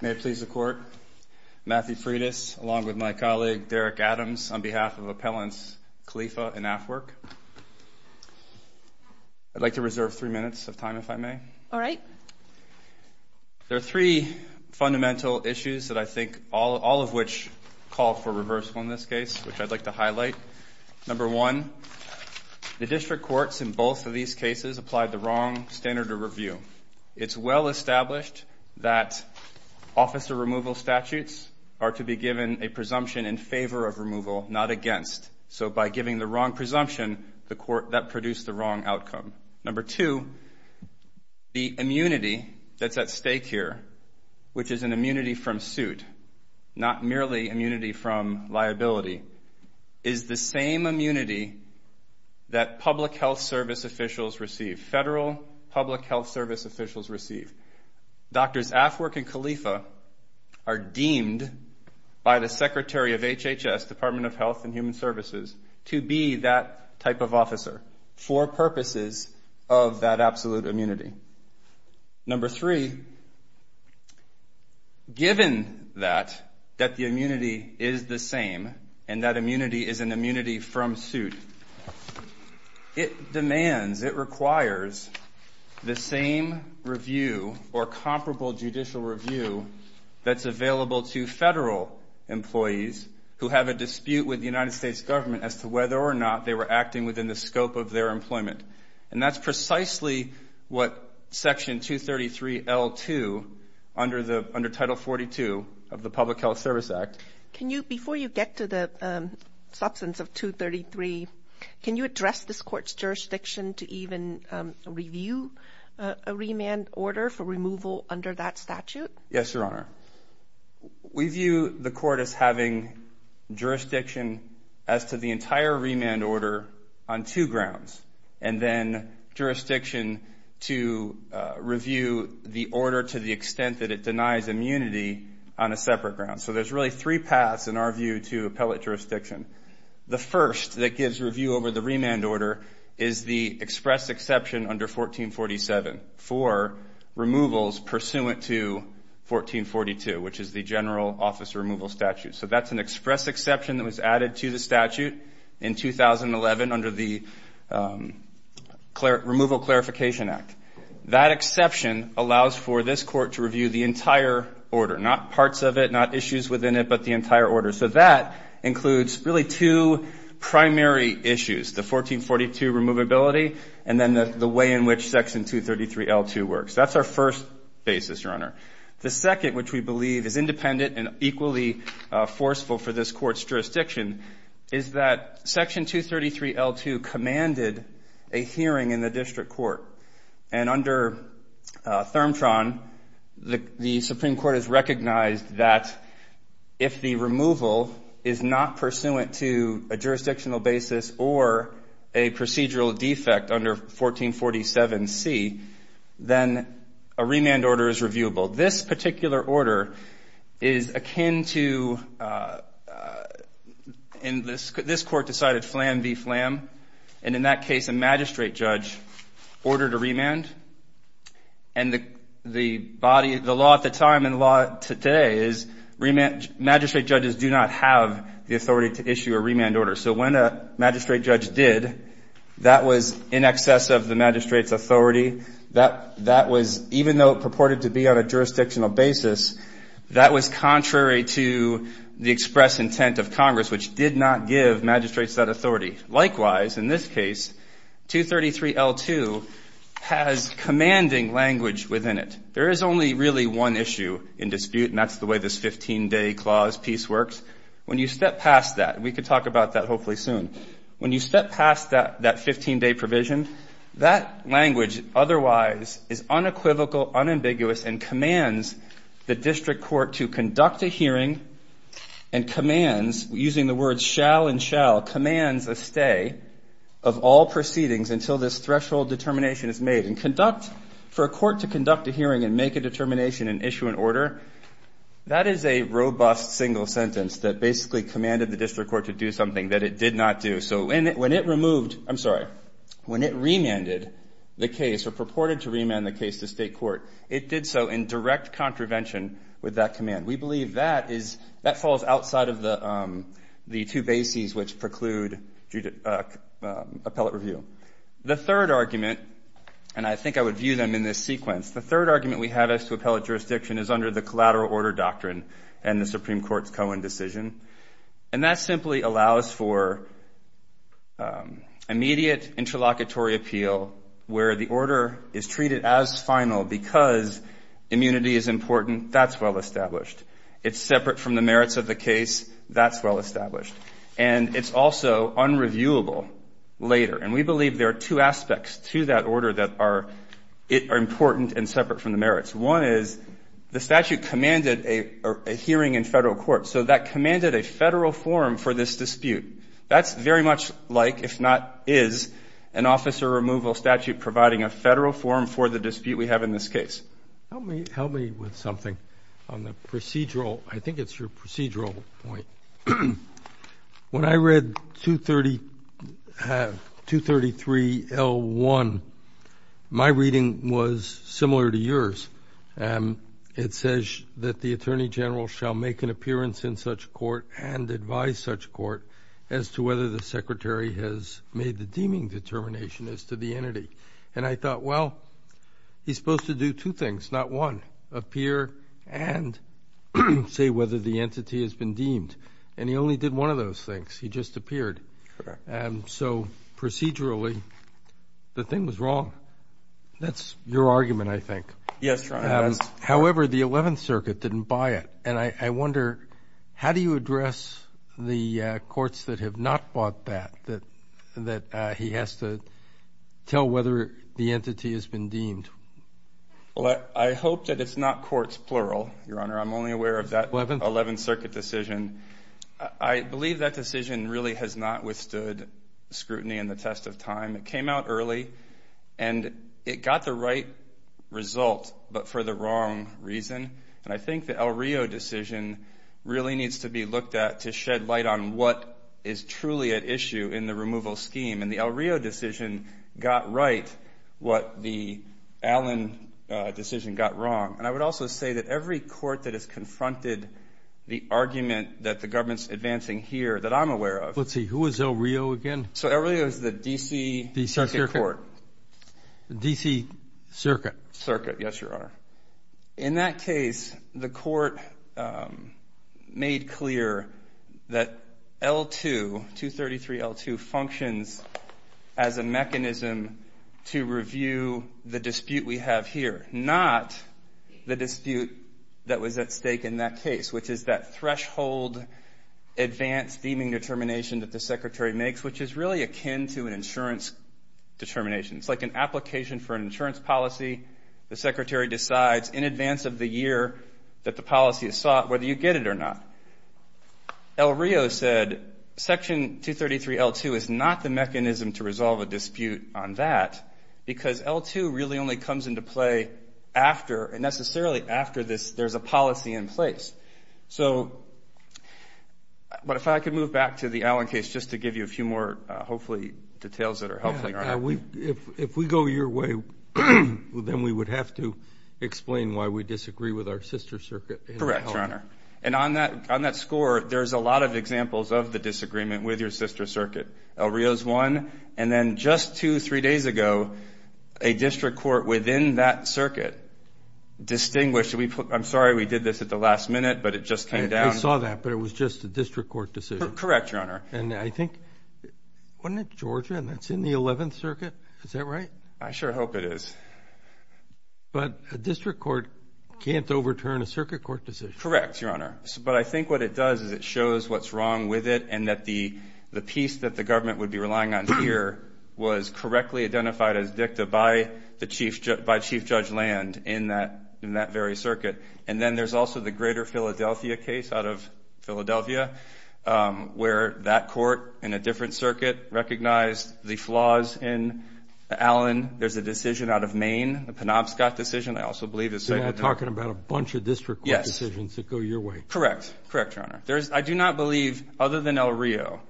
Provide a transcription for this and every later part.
May it please the Court, Matthew Freitas, along with my colleague, Derek Adams, on behalf of Appellants Khalifa and Afwerk. I'd like to reserve three minutes of time, if I may. All right. There are three fundamental issues that I think, all of which call for reversal in this case, which I'd like to highlight. Number one, the district courts in both of the wrong standard of review. It's well-established that officer removal statutes are to be given a presumption in favor of removal, not against. So by giving the wrong presumption, that produced the wrong outcome. Number two, the immunity that's at stake here, which is an immunity from suit, not merely immunity from liability, is the same immunity that public health service officials receive, federal public health service officials receive. Doctors Afwerk and Khalifa are deemed by the Secretary of HHS, Department of Health and Human Services, to be that type of officer for purposes of that absolute immunity. Number three, given that, that the immunity is the same, and that immunity is an immunity from suit, it demands, it requires, the same review or comparable judicial review that's available to federal employees who have a dispute with the United States government as to whether or not they were acting within the scope of their employment. And that's precisely what Section 233 L2, under the, under Title 42 of the Public Health Service Act. Can you, before you get to the substance of 233, can you address this Court's jurisdiction to even review a remand order for removal under that statute? Yes, Your Honor. We view the Court as having jurisdiction as to the entire remand order on two grounds, and then jurisdiction to review the order to the extent that it denies immunity on a separate ground. So there's really three paths in our view to appellate jurisdiction. The first that gives review over the remand order is the express exception under 1447 for removals pursuant to 1442, which is the general office removal statute. So that's an under the Removal Clarification Act. That exception allows for this Court to review the entire order, not parts of it, not issues within it, but the entire order. So that includes really two primary issues, the 1442 removability and then the way in which Section 233 L2 works. That's our first basis, Your Honor. The second, which we believe is independent and equally forceful for this Court's jurisdiction, is that Section 233 L2 commanded a hearing in the district court. And under ThermTron, the Supreme Court has recognized that if the removal is not pursuant to a jurisdictional basis or a procedural defect under 1447 C, then a remand order is akin to, and this Court decided flam v. flam, and in that case a magistrate judge ordered a remand. And the body, the law at the time and law today is magistrate judges do not have the authority to issue a remand order. So when a magistrate judge did, that was in excess of the magistrate's jurisdictional basis, that was contrary to the express intent of Congress, which did not give magistrates that authority. Likewise, in this case, 233 L2 has commanding language within it. There is only really one issue in dispute, and that's the way this 15-day clause piece works. When you step past that, we could talk about that hopefully soon, when you step past that 15-day provision. That language otherwise is unequivocal, unambiguous, and commands the district court to conduct a hearing and commands, using the words shall and shall, commands a stay of all proceedings until this threshold determination is made. And conduct, for a court to conduct a hearing and make a determination and issue an order, that is a robust single sentence that basically commanded the district court to do something that it did not do. So when it removed, I'm sorry, when it remanded the case or purported to remand the case to state court, it did so in direct contravention with that command. We believe that falls outside of the two bases which preclude appellate review. The third argument, and I think I would view them in this sequence, the third argument we have as to appellate jurisdiction is under the collateral order doctrine and the Supreme Court's Cohen decision. And that simply allows for immediate interlocutory appeal where the order is treated as final because immunity is important. That's well established. It's separate from the merits of the case. That's well established. And it's also unreviewable later. And we believe there are two aspects to that order that are important and separate from the merits. One is the statute commanded a hearing in federal court. So that commanded a federal forum for this dispute. That's very much like, if not is, an officer removal statute providing a federal forum for the dispute we have in this case. Help me with something on the procedural. I think it's your procedural point. When I read 233L1, my reading was similar to yours. It says that the attorney general shall make an appearance in such court and advise such court as to whether the secretary has made the deeming determination as to the entity. And I thought, well, he's supposed to do two things, not one, appear and say whether the entity has been deemed. And he only did one of those things. He just appeared. So procedurally, the thing was wrong. That's your argument, I think. Yes, Your Honor. However, the 11th Circuit didn't buy it. And I wonder, how do you address the courts that have not bought that, that he has to tell whether the entity has been deemed? I hope that it's not courts, plural, Your Honor. I'm only aware of that 11th Circuit decision. I believe that decision really has not withstood scrutiny and the test of time. It came out early and it got the right result, but for the wrong reason. And I think the El Rio decision really needs to be looked at to shed light on what is truly at issue in the removal scheme. And the El Rio decision got right what the Allen decision got wrong. And I would also say that every court that has confronted the argument that the government's advancing here that I'm aware of. Let's see, who is El Rio again? So El Rio is the D.C. Court. D.C. Circuit. Circuit. Yes, Your Honor. In that case, the court made clear that L2, 233 L2 functions as a mechanism to review the dispute we have here, not the dispute that was at stake in that case, which is that threshold advanced deeming determination that the Secretary makes, which is really akin to an insurance determination. It's like an application for an insurance policy. The Secretary decides in advance of the year that the policy is sought, whether you get it or not. El Rio said Section 233 L2 is not the mechanism to resolve a dispute on that because L2 really only comes into play after, and necessarily after this, there's a policy in place. So, but if I could move back to the Allen case just to give you a few more, hopefully, details that are helpful, Your Honor. Yeah, if we go your way, then we would have to explain why we disagree with our sister circuit. Correct, Your Honor. And on that score, there's a lot of examples of the disagreement with your sister circuit. El Rio's one, and then just two, three days ago, a district court within that circuit distinguished, I'm sorry we did this at the last minute, but it just came down. I saw that, but it was just a district court decision. Correct, Your Honor. And I think, wasn't it Georgia, and that's in the 11th Circuit? Is that right? I sure hope it is. But a district court can't overturn a circuit court decision. Correct, Your Honor. But I think what it does is it shows what's wrong with it, and that the piece that the government would be relying on here was correctly identified as dicta by the Chief Judge Land in that very circuit. And then there's also the Greater Philadelphia case out of Philadelphia, where that court in a different circuit recognized the flaws in Allen. There's a decision out of Maine, the Penobscot decision. I also believe it's... You're talking about a bunch of district court decisions that go your way. Correct. Correct, Your Honor. I do not believe, other than El Rio,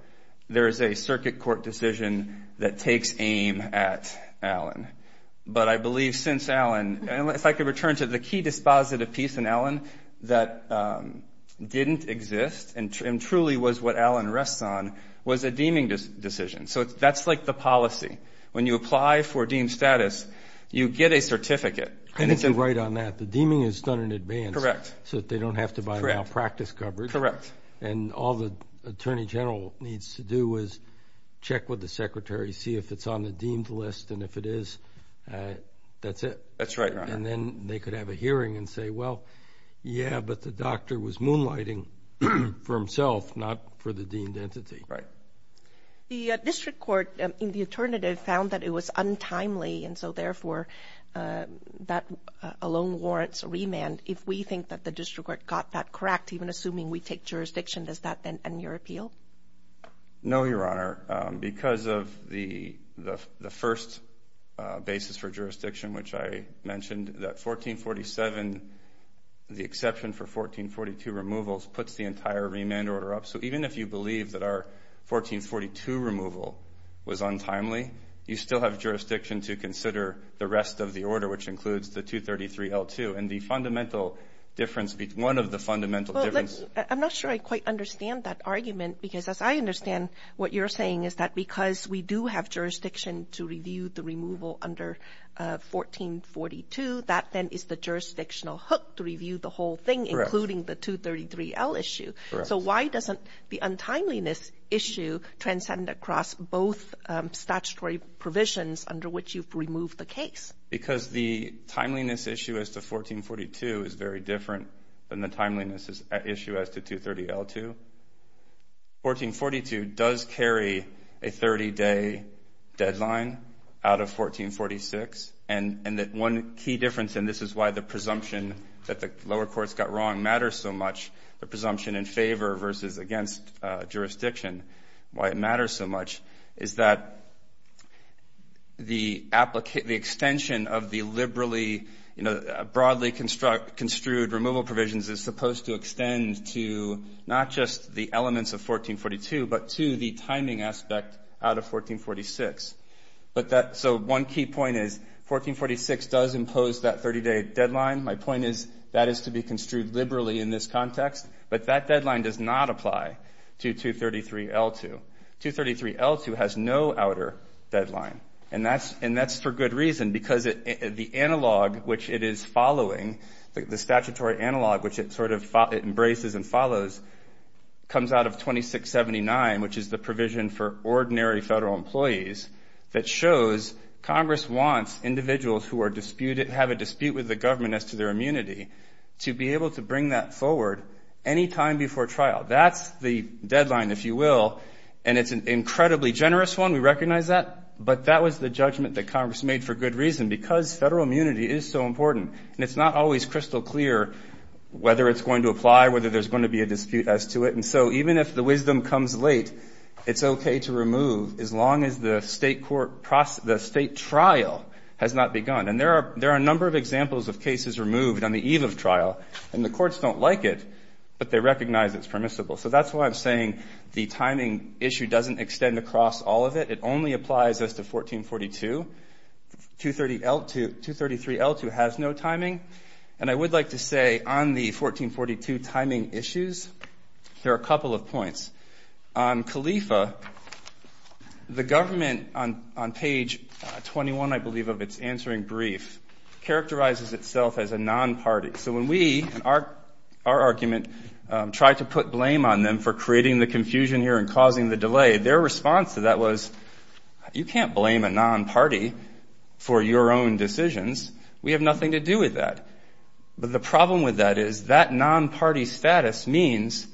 there is a circuit court decision that takes aim at Allen. But I believe since Allen, if I could return to the key dispositive piece in Allen that didn't exist and truly was what Allen rests on, was a deeming decision. So that's like the policy. When you apply for deemed status, you get a certificate. I think you're right on that. The deeming is done in advance. Correct. So that they don't have to buy malpractice coverage. Correct. And all the Attorney General needs to do is check with the Secretary, see if it's on the list. That's it. That's right, Your Honor. And then they could have a hearing and say, well, yeah, but the doctor was moonlighting for himself, not for the deemed entity. Right. The district court in the alternative found that it was untimely. And so therefore, that alone warrants a remand. If we think that the district court got that correct, even assuming we take jurisdiction, does that then end your appeal? No, Your Honor. Because of the first basis for jurisdiction, which I mentioned, that 1447, the exception for 1442 removals, puts the entire remand order up. So even if you believe that our 1442 removal was untimely, you still have jurisdiction to consider the rest of the order, which includes the 233-L2. And the fundamental difference, one of the fundamental differences... I'm not sure I quite understand that argument. Because as I understand, what you're saying is that because we do have jurisdiction to review the removal under 1442, that then is the jurisdictional hook to review the whole thing, including the 233-L issue. So why doesn't the untimeliness issue transcend across both statutory provisions under which you've removed the case? Because the timeliness issue as to 1442 is very different than the timeliness issue as to 230-L2. 1442 does carry a 30-day deadline out of 1446. And one key difference, and this is why the presumption that the lower courts got wrong matters so much, the presumption in favor versus against jurisdiction, why it matters so much, is that the extension of the liberally, broadly construed removal provisions is supposed to extend to not just the elements of 1442, but to the timing aspect out of 1446. So one key point is, 1446 does impose that 30-day deadline. My point is, that is to be construed liberally in this context. But that deadline does not apply to 233-L2. 233-L2 has no outer deadline. And that's for good reason. Because the analog, which it is following, the statutory analog, which it sort of embraces and follows, comes out of 2679, which is the provision for ordinary federal employees that shows Congress wants individuals who have a dispute with the government as to their immunity to be able to bring that forward any time before trial. That's the deadline, if you will. And it's an incredibly generous one. We recognize that. But that was the judgment that Congress made for good reason. Because federal immunity is so important. And it's not always crystal clear whether it's going to apply, whether there's going to be a dispute as to it. And so even if the wisdom comes late, it's okay to remove as long as the state trial has not begun. And there are a number of examples of cases removed on the eve of trial. And the courts don't like it. But they recognize it's permissible. So that's why I'm saying the timing issue doesn't extend across all of it. It only applies as to 1442. 233L2 has no timing. And I would like to say on the 1442 timing issues, there are a couple of points. On CALEFA, the government on page 21, I believe, of its answering brief, characterizes itself as a non-party. So when we, in our argument, tried to put blame on them for creating the confusion here and causing the delay, their response to that was, you can't blame a non-party for your own decisions. We have nothing to do with that. But the problem with that is that non-party status means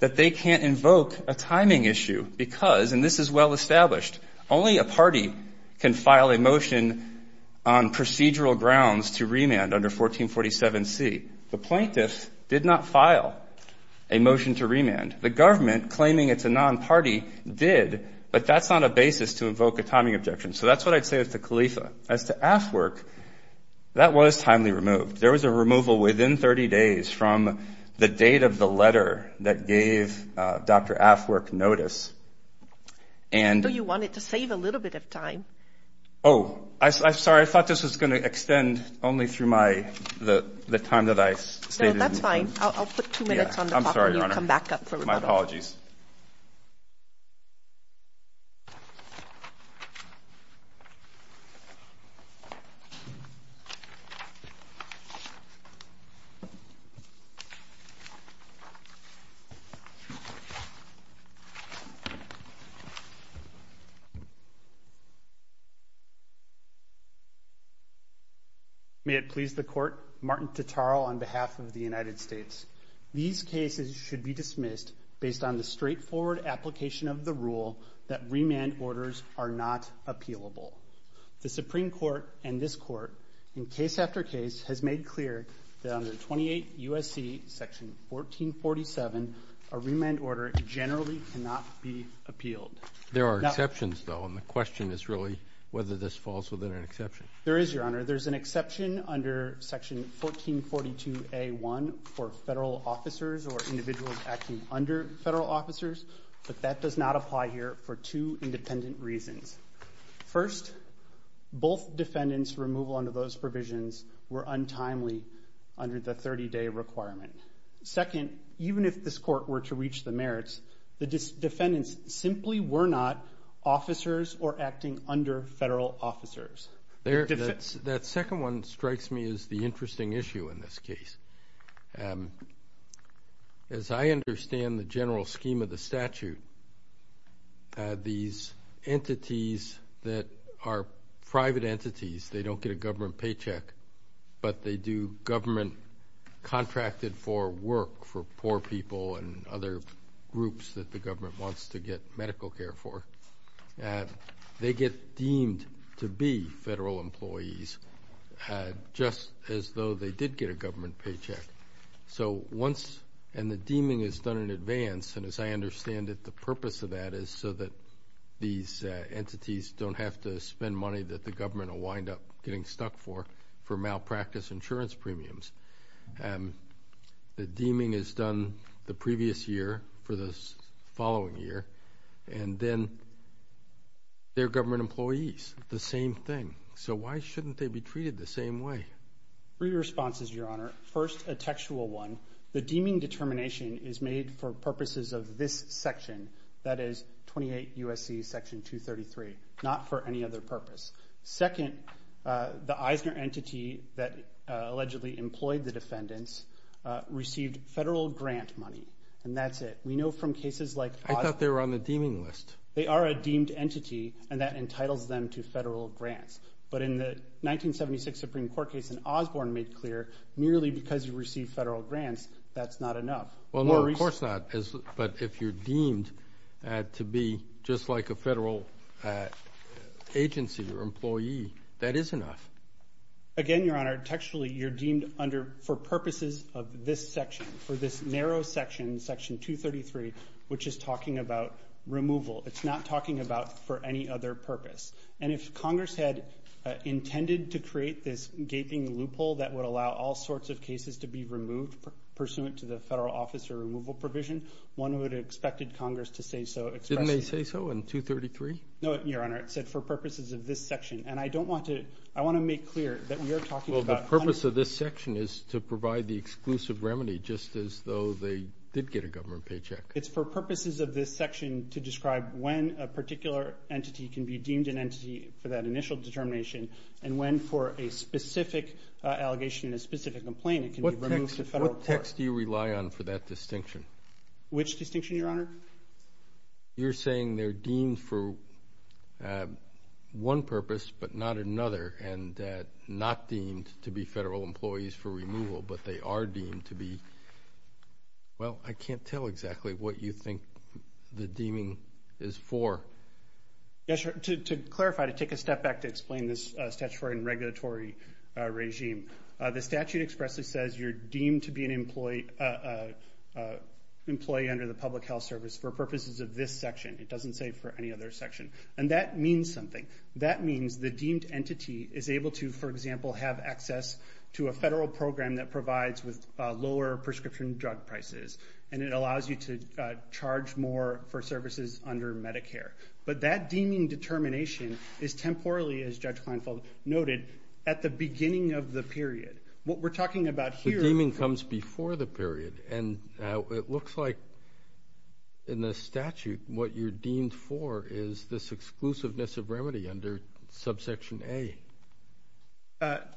that they can't invoke a timing issue. Because, and this is well established, only a party can file a motion on procedural grounds to remand under 1447C. The plaintiffs did not file a motion to remand. The government, claiming it's a non-party, did. But that's not a basis to invoke a timing objection. So that's what I'd say as to CALEFA. As to AFWRC, that was timely removed. There was a removal within 30 days from the date of the letter that gave Dr. AFWRC notice. And— So you wanted to save a little bit of time. Oh, I'm sorry. I thought this was going to extend only through my, the time that I stated. I'll put two minutes on the clock— I'm sorry, Your Honor. —and then you'll come back up for remand. My apologies. May it please the Court, Martin Tataro on behalf of the United States. These cases should be dismissed based on the straightforward application of the rule that remand orders are not appealable. The Supreme Court and this Court, in case after case, has made clear that under 28 U.S.C. section 1447, a remand order generally cannot be appealed. There are exceptions, though, and the question is really whether this falls within an exception. There is, Your Honor. There's an exception under section 1442A1 for federal officers or individuals acting under federal officers, but that does not apply here for two independent reasons. First, both defendants' removal under those provisions were untimely under the 30-day requirement. Second, even if this Court were to reach the merits, the defendants simply were not officers or acting under federal officers. That second one strikes me as the interesting issue in this case. As I understand the general scheme of the statute, these entities that are private entities, they don't get a government paycheck, but they do government contracted for work for poor people and other groups that the government wants to get medical care for. And they get deemed to be federal employees just as though they did get a government paycheck. So once, and the deeming is done in advance, and as I understand it, the purpose of that is so that these entities don't have to spend money that the government will wind up getting stuck for, for malpractice insurance premiums. The deeming is done the previous year for the following year, and then they're government employees, the same thing. So why shouldn't they be treated the same way? Three responses, Your Honor. First, a textual one. The deeming determination is made for purposes of this section, that is 28 U.S.C. Section 233, not for any other purpose. Second, the Eisner entity that allegedly employed the defendants received federal grant money, and that's it. We know from cases like— I thought they were on the deeming list. They are a deemed entity, and that entitles them to federal grants. But in the 1976 Supreme Court case, and Osborne made clear, merely because you receive federal grants, that's not enough. Well, no, of course not. But if you're deemed to be just like a federal agency or employee, that is enough. Again, Your Honor, textually, you're deemed under, for purposes of this section, for this narrow section, Section 233, which is talking about removal. It's not talking about for any other purpose. And if Congress had intended to create this gaping loophole that would allow all sorts of cases to be removed pursuant to the federal officer removal provision, one would have expected Congress to say so expressly. Didn't they say so in 233? No, Your Honor. It said for purposes of this section. And I don't want to—I want to make clear that we are talking about— Purpose of this section is to provide the exclusive remedy just as though they did get a government paycheck. It's for purposes of this section to describe when a particular entity can be deemed an entity for that initial determination and when, for a specific allegation and a specific complaint, it can be removed to federal court. What text do you rely on for that distinction? Which distinction, Your Honor? You're saying they're deemed for one purpose but not another and not deemed to be federal employees for removal, but they are deemed to be— well, I can't tell exactly what you think the deeming is for. Yes, Your Honor. To clarify, to take a step back to explain this statutory and regulatory regime, the statute expressly says you're deemed to be an employee under the Public Health Service for purposes of this section. It doesn't say for any other section. And that means something. That means the deemed entity is able to, for example, have access to a federal program that provides with lower prescription drug prices, and it allows you to charge more for services under Medicare. But that deeming determination is temporally, as Judge Kleinfeld noted, at the beginning of the period. What we're talking about here— The deeming comes before the period, and it looks like in the statute what you're deemed for is this exclusiveness of remedy under subsection A.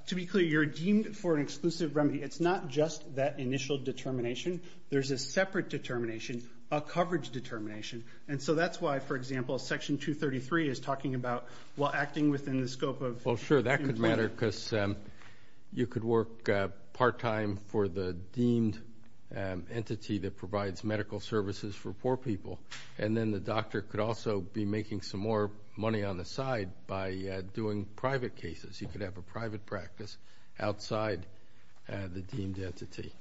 To be clear, you're deemed for an exclusive remedy. It's not just that initial determination. There's a separate determination, a coverage determination. And so that's why, for example, section 233 is talking about while acting within the scope of— Well, sure, that could matter because you could work part-time for the deemed entity that provides medical services for poor people. And then the doctor could also be making some more money on the side by doing private cases. You could have a private practice outside the deemed entity.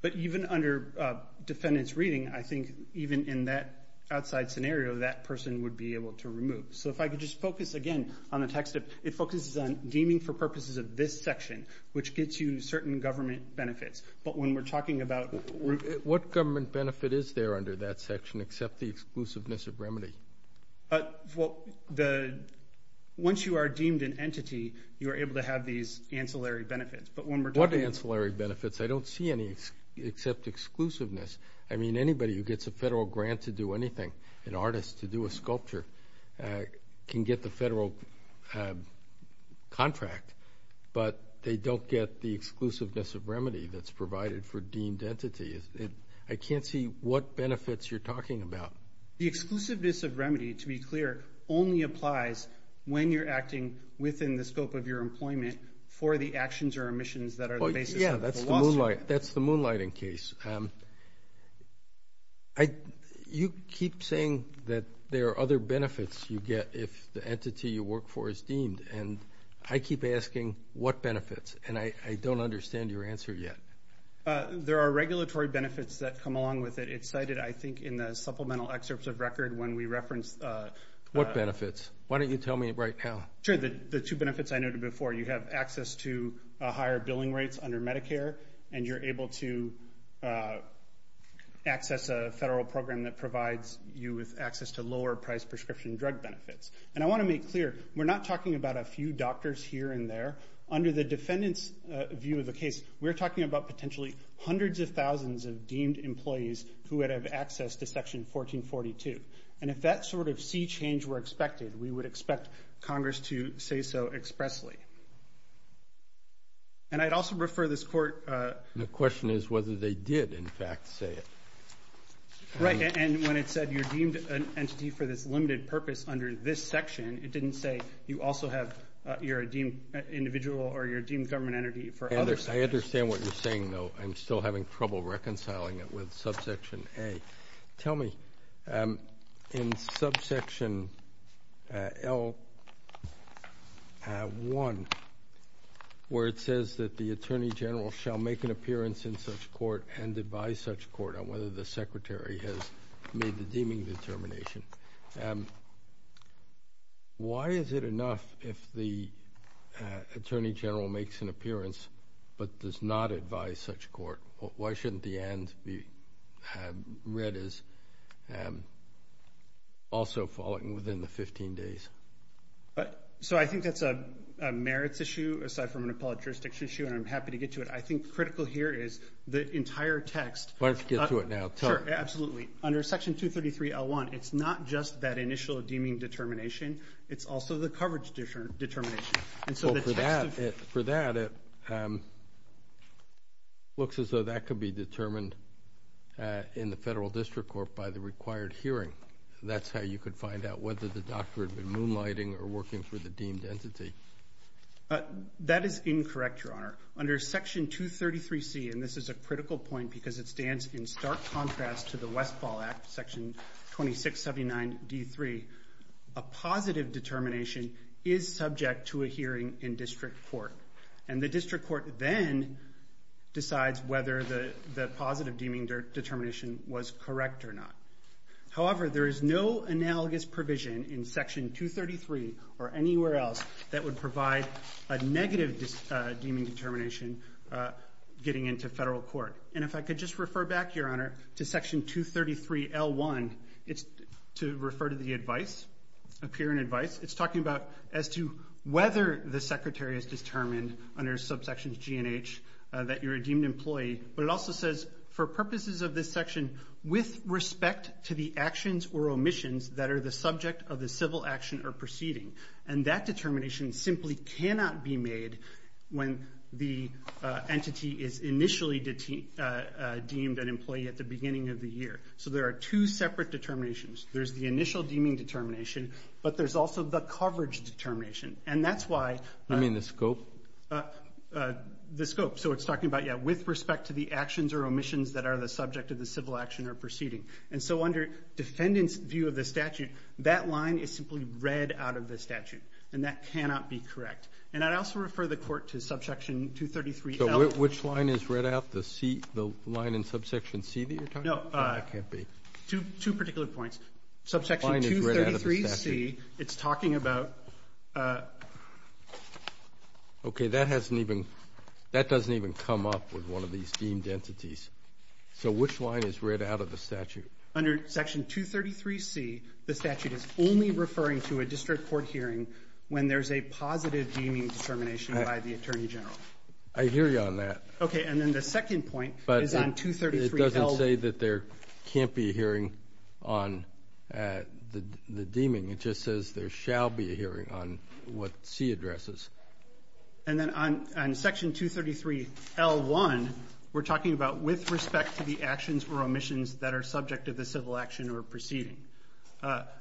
But even under defendant's reading, I think even in that outside scenario, that person would be able to remove. So if I could just focus again on the text. It focuses on deeming for purposes of this section, which gets you certain government benefits. But when we're talking about— What government benefit is there under that section except the exclusiveness of remedy? Once you are deemed an entity, you are able to have these ancillary benefits. But when we're talking— What ancillary benefits? I don't see any except exclusiveness. I mean, anybody who gets a federal grant to do anything, an artist to do a sculpture, can get the federal contract. But they don't get the exclusiveness of remedy that's provided for deemed entity. I can't see what benefits you're talking about. The exclusiveness of remedy, to be clear, only applies when you're acting within the scope of your employment for the actions or omissions that are the basis of the lawsuit. Yeah, that's the moonlighting case. You keep saying that there are other benefits you get if the entity you work for is deemed. And I keep asking, what benefits? And I don't understand your answer yet. There are regulatory benefits that come along with it. It's cited, I think, in the supplemental excerpts of record when we reference— What benefits? Why don't you tell me right now? Sure, the two benefits I noted before. You have access to higher billing rates under Medicare and you're able to access a federal program that provides you with access to lower-priced prescription drug benefits. And I want to make clear, we're not talking about a few doctors here and there. Under the defendant's view of the case, we're talking about potentially hundreds of thousands of deemed employees who would have access to Section 1442. And if that sort of sea change were expected, we would expect Congress to say so expressly. And I'd also refer this court— The question is whether they did, in fact, say it. Right, and when it said, you're deemed an entity for this limited purpose under this section, it didn't say you're a deemed individual or you're deemed government entity for others. I understand what you're saying, though. I'm still having trouble reconciling it with Subsection A. Tell me, in Subsection L1, where it says that the Attorney General shall make an appearance in such court and advise such court on whether the Secretary has made the deeming determination, why is it enough if the Attorney General makes an appearance but does not advise such court? Why shouldn't the end be read as also following within the 15 days? So I think that's a merits issue, aside from an appellate jurisdiction issue, and I'm happy to get to it. I think critical here is the entire text— Why don't you get to it now? Sure, absolutely. Under Section 233 L1, it's not just that initial deeming determination, it's also the coverage determination. So for that, it looks as though that could be determined in the Federal District Court by the required hearing. That's how you could find out whether the doctor had been moonlighting or working for the deemed entity. That is incorrect, Your Honor. Under Section 233 C, and this is a critical point because it stands in stark contrast to the Westfall Act, Section 2679 D3, a positive determination is subject to a hearing in District Court. And the District Court then decides whether the positive deeming determination was correct or not. However, there is no analogous provision in Section 233 or anywhere else that would provide a negative deeming determination getting into Federal Court. And if I could just refer back, Your Honor, to Section 233 L1, it's to refer to the advice, appear in advice. It's talking about as to whether the secretary has determined under subsection G and H that you're a deemed employee. But it also says, for purposes of this section, with respect to the actions or omissions that are the subject of the civil action or proceeding. And that determination simply cannot be made when the entity is initially deemed an employee at the beginning of the year. So there are two separate determinations. There's the initial deeming determination, but there's also the coverage determination. And that's why- You mean the scope? The scope. So it's talking about, yeah, with respect to the actions or omissions that are the subject of the civil action or proceeding. And so under defendant's view of the statute, that line is simply read out of the statute and that cannot be correct. And I'd also refer the court to Subsection 233 L- Which line is read out? The line in Subsection C that you're talking about? No. Two particular points. Subsection 233 C, it's talking about- Okay, that doesn't even come up with one of these deemed entities. So which line is read out of the statute? Under Section 233 C, the statute is only referring to a district court hearing when there's a positive deeming determination by the Attorney General. I hear you on that. Okay, and then the second point is on 233 L- But it doesn't say that there can't be a hearing on the deeming. It just says there shall be a hearing on what C addresses. And then on Section 233 L-1, we're talking about with respect to the actions or omissions that are subject to the civil action or proceeding.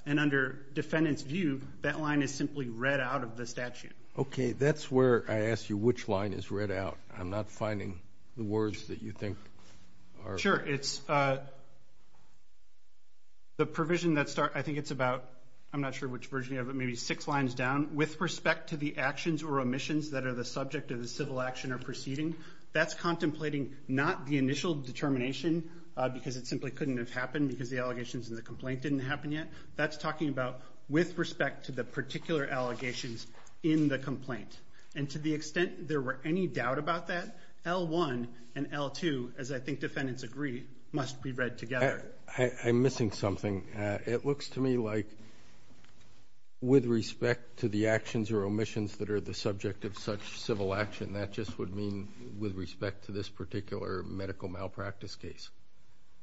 And under defendant's view, that line is simply read out of the statute. Okay, that's where I ask you which line is read out. I'm not finding the words that you think are- Sure, it's the provision that start, I think it's about, I'm not sure which version you have, but maybe six lines down. With respect to the actions or omissions that are the subject of the civil action or proceeding, that's contemplating not the initial determination because it simply couldn't have happened because the allegations in the complaint didn't happen yet. That's talking about with respect to the particular allegations in the complaint. And to the extent there were any doubt about that, L-1 and L-2, as I think defendants agree, must be read together. I'm missing something. It looks to me like with respect to the actions or omissions that are the subject of such civil action, that just would mean with respect to this particular medical malpractice case.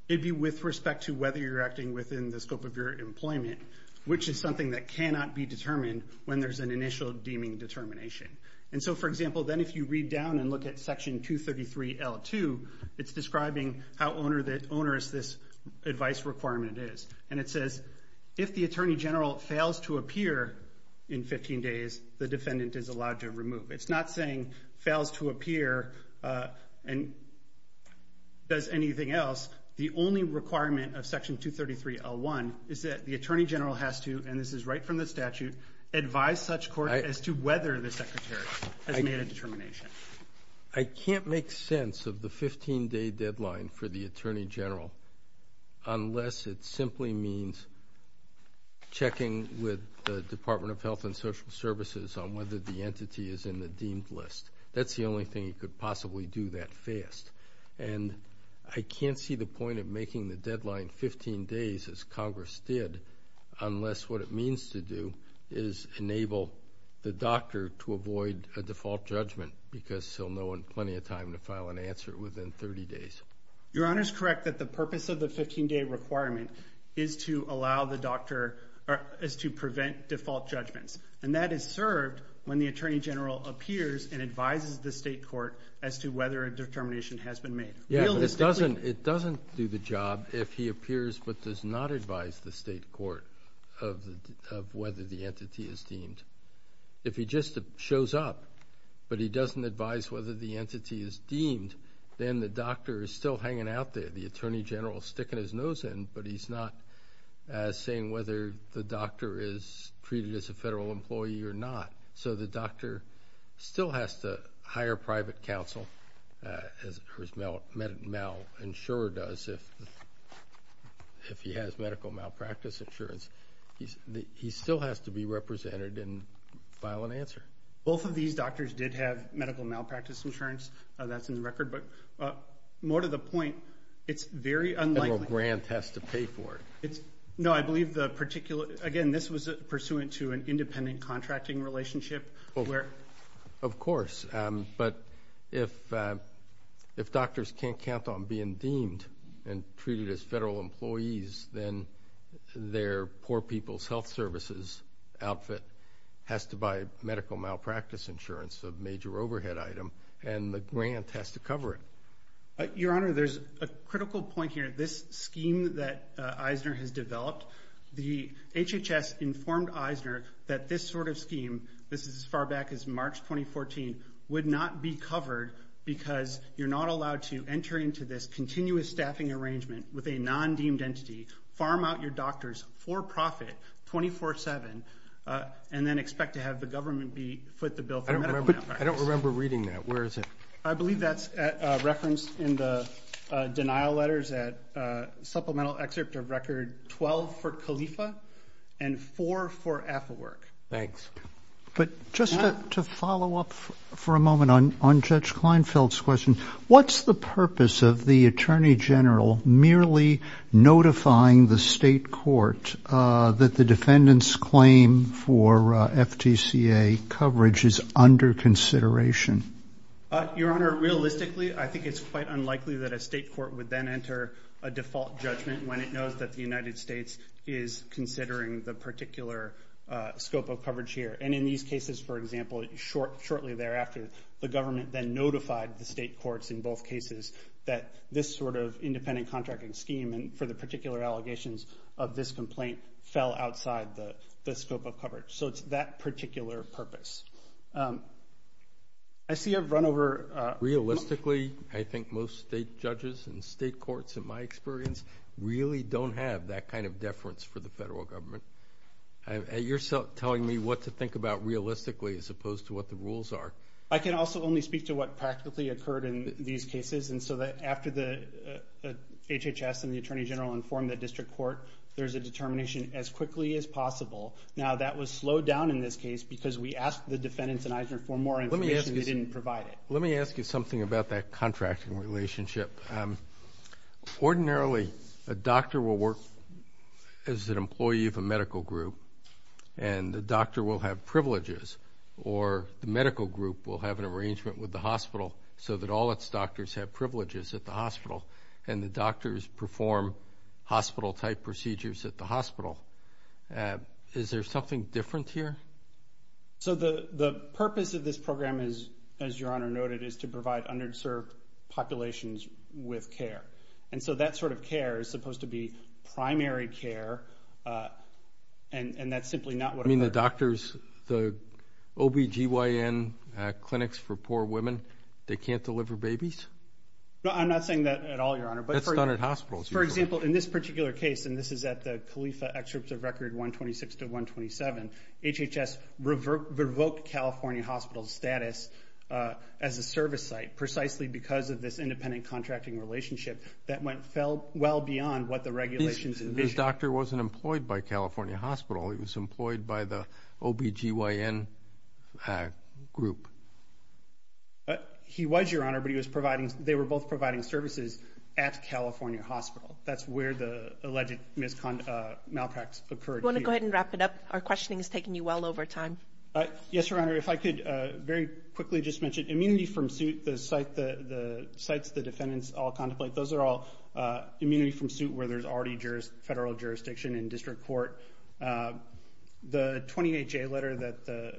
It'd be with respect to whether you're acting within the scope of your employment, which is something that cannot be determined when there's an initial deeming determination. And so, for example, then if you read down and look at Section 233 L-2, it's describing how onerous this advice requirement is. And it says, if the Attorney General fails to appear in 15 days, the defendant is allowed to remove. It's not saying fails to appear and does anything else. The only requirement of Section 233 L-1 is that the Attorney General has to, and this is right from the statute, advise such court as to whether the Secretary has made a determination. I can't make sense of the 15-day deadline for the Attorney General unless it simply means checking with the Department of Health and Social Services on whether the entity is in the deemed list. That's the only thing you could possibly do that fast. And I can't see the point of making the deadline 15 days as Congress did, unless what it means to do is enable the doctor to avoid a default judgment because he'll know in plenty of time to file an answer within 30 days. Your Honor is correct that the purpose of the 15-day requirement is to prevent default judgments. And that is served when the Attorney General appears and advises the state court as to whether a determination has been made. Yeah, but it doesn't do the job if he appears but does not advise the state court of whether the entity is deemed. If he just shows up but he doesn't advise whether the entity is deemed, then the doctor is still hanging out there. The Attorney General is sticking his nose in, but he's not saying whether the doctor is treated as a federal employee or not. So the doctor still has to hire private counsel as Mel Insurer does if he has medical malpractice insurance. He still has to be represented and file an answer. Both of these doctors did have medical malpractice insurance. That's in the record, but more to the point, it's very unlikely- The federal grant has to pay for it. It's, no, I believe the particular, again, this was pursuant to an independent contracting relationship where- Of course, but if doctors can't count on being deemed, and treated as federal employees, then their Poor People's Health Services outfit has to buy medical malpractice insurance, a major overhead item, and the grant has to cover it. Your Honor, there's a critical point here. This scheme that Eisner has developed, the HHS informed Eisner that this sort of scheme, this is as far back as March 2014, would not be covered because you're not allowed to enter into this continuous staffing arrangement with a non-deemed entity, farm out your doctors for profit 24-7, and then expect to have the government be foot the bill for medical malpractice. I don't remember reading that. Where is it? I believe that's referenced in the denial letters at supplemental excerpt of record 12 for Khalifa and four for Affleworth. Thanks. But just to follow up for a moment on Judge Kleinfeld's question, what's the purpose of the Attorney General merely notifying the state court that the defendant's claim for FTCA coverage is under consideration? Your Honor, realistically, I think it's quite unlikely that a state court would then enter a default judgment when it knows that the United States is considering the particular scope of coverage here. And in these cases, for example, shortly thereafter, the government then notified the state courts in both cases that this sort of independent contracting scheme and for the particular allegations of this complaint fell outside the scope of coverage. So it's that particular purpose. I see a run over... Realistically, I think most state judges and state courts, in my experience, really don't have that kind of deference for the federal government. You're telling me what to think about realistically as opposed to what the rules are. I can also only speak to what practically occurred in these cases. And so that after the HHS and the Attorney General informed the district court, there's a determination as quickly as possible. Now, that was slowed down in this case because we asked the defendants in Eisner for more information, they didn't provide it. Let me ask you something about that contracting relationship. Ordinarily, a doctor will work as an employee of a medical group and the doctor will have privileges or the medical group will have an arrangement with the hospital so that all its doctors have privileges at the hospital and the doctors perform hospital-type procedures at the hospital. Is there something different here? So the purpose of this program is, as Your Honor noted, is to provide underserved populations with care. And so that sort of care is supposed to be primary care and that's simply not what... The doctors, the OBGYN clinics for poor women, they can't deliver babies? I'm not saying that at all, Your Honor. That's done at hospitals. For example, in this particular case, and this is at the Califa excerpts of Record 126 to 127, HHS revoked California Hospital's status as a service site precisely because of this independent contracting relationship that went well beyond what the regulations envisioned. This doctor wasn't employed by California Hospital, he was employed by the OBGYN group. He was, Your Honor, but they were both providing services at California Hospital. That's where the alleged malpractice occurred. Do you want to go ahead and wrap it up? Our questioning is taking you well over time. Yes, Your Honor. If I could very quickly just mention immunity from suit, the sites the defendants all contemplate, those are all immunity from suit where there's already federal jurisdiction in district court. The 28-J letter that the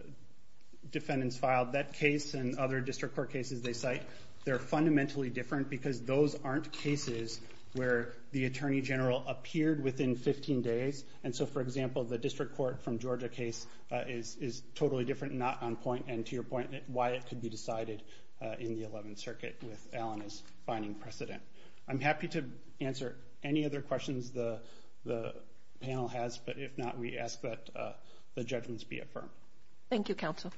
defendants filed, that case and other district court cases they cite, they're fundamentally different because those aren't cases where the attorney general appeared within 15 days. And so, for example, the district court from Georgia case is totally different, not on point, and to your point, why it could be decided in the 11th Circuit with Allen is finding precedent. I'm happy to answer any other questions the panel has, but if not, we ask that the judgments be affirmed. Thank you, counsel.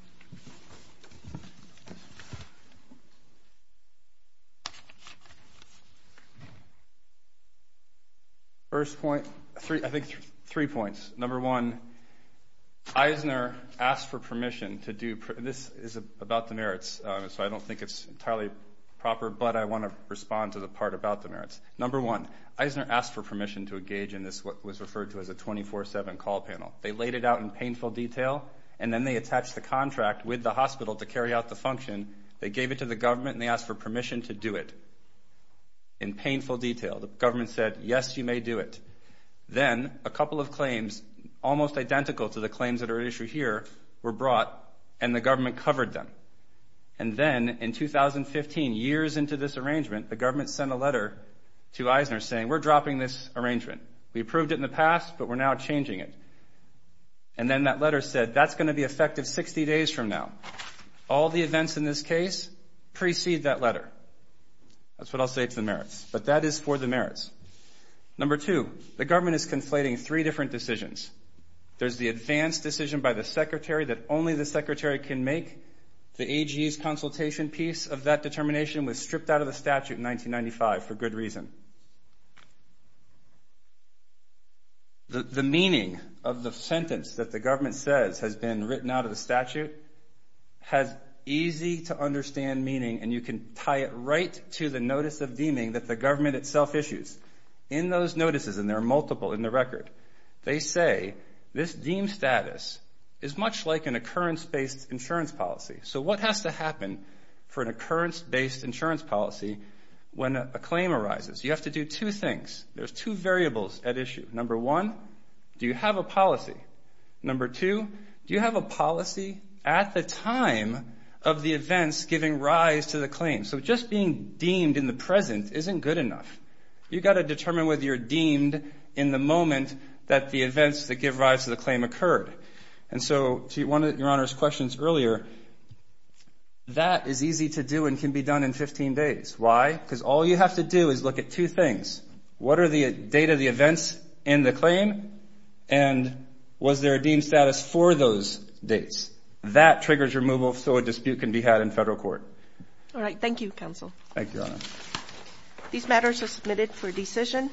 First point, I think three points. Number one, Eisner asked for permission to do, this is about the merits, so I don't think it's entirely proper, but I want to respond to the part about the merits. Number one, Eisner asked for permission to engage in this, what was referred to as a 24-7 call panel. They laid it out in painful detail and then they attached the contract with the hospital to carry out the function. They gave it to the government and they asked for permission to do it in painful detail. The government said, yes, you may do it. Then a couple of claims, almost identical to the claims that are issued here, were brought and the government covered them. And then in 2015, years into this arrangement, the government sent a letter to Eisner saying, we're dropping this arrangement. We approved it in the past, but we're now changing it. And then that letter said, that's going to be effective 60 days from now. All the events in this case precede that letter. That's what I'll say to the merits, but that is for the merits. Number two, the government is conflating three different decisions. There's the advanced decision by the secretary that only the secretary can make. The AG's consultation piece of that determination was stripped out of the statute in 1995 for good reason. The meaning of the sentence that the government says has been written out of the statute has easy to understand meaning and you can tie it right to the notice of deeming that the government itself issues. In those notices, and there are multiple in the record, they say this deem status is much like an occurrence-based insurance policy. So what has to happen for an occurrence-based insurance policy when a claim arises? You have to do two things. There's two variables at issue. Number one, do you have a policy? Number two, do you have a policy at the time of the events giving rise to the claim? So just being deemed in the present isn't good enough. You've got to determine whether you're deemed in the moment that the events that give rise to the claim occurred. And so to one of Your Honor's questions earlier, that is easy to do and can be done in 15 days. Why? Because all you have to do is look at two things. What are the date of the events in the claim? And was there a deem status for those dates? That triggers removal so a dispute can be had in federal court. All right. Thank you, counsel. Thank you, Your Honor. These matters are submitted for decision.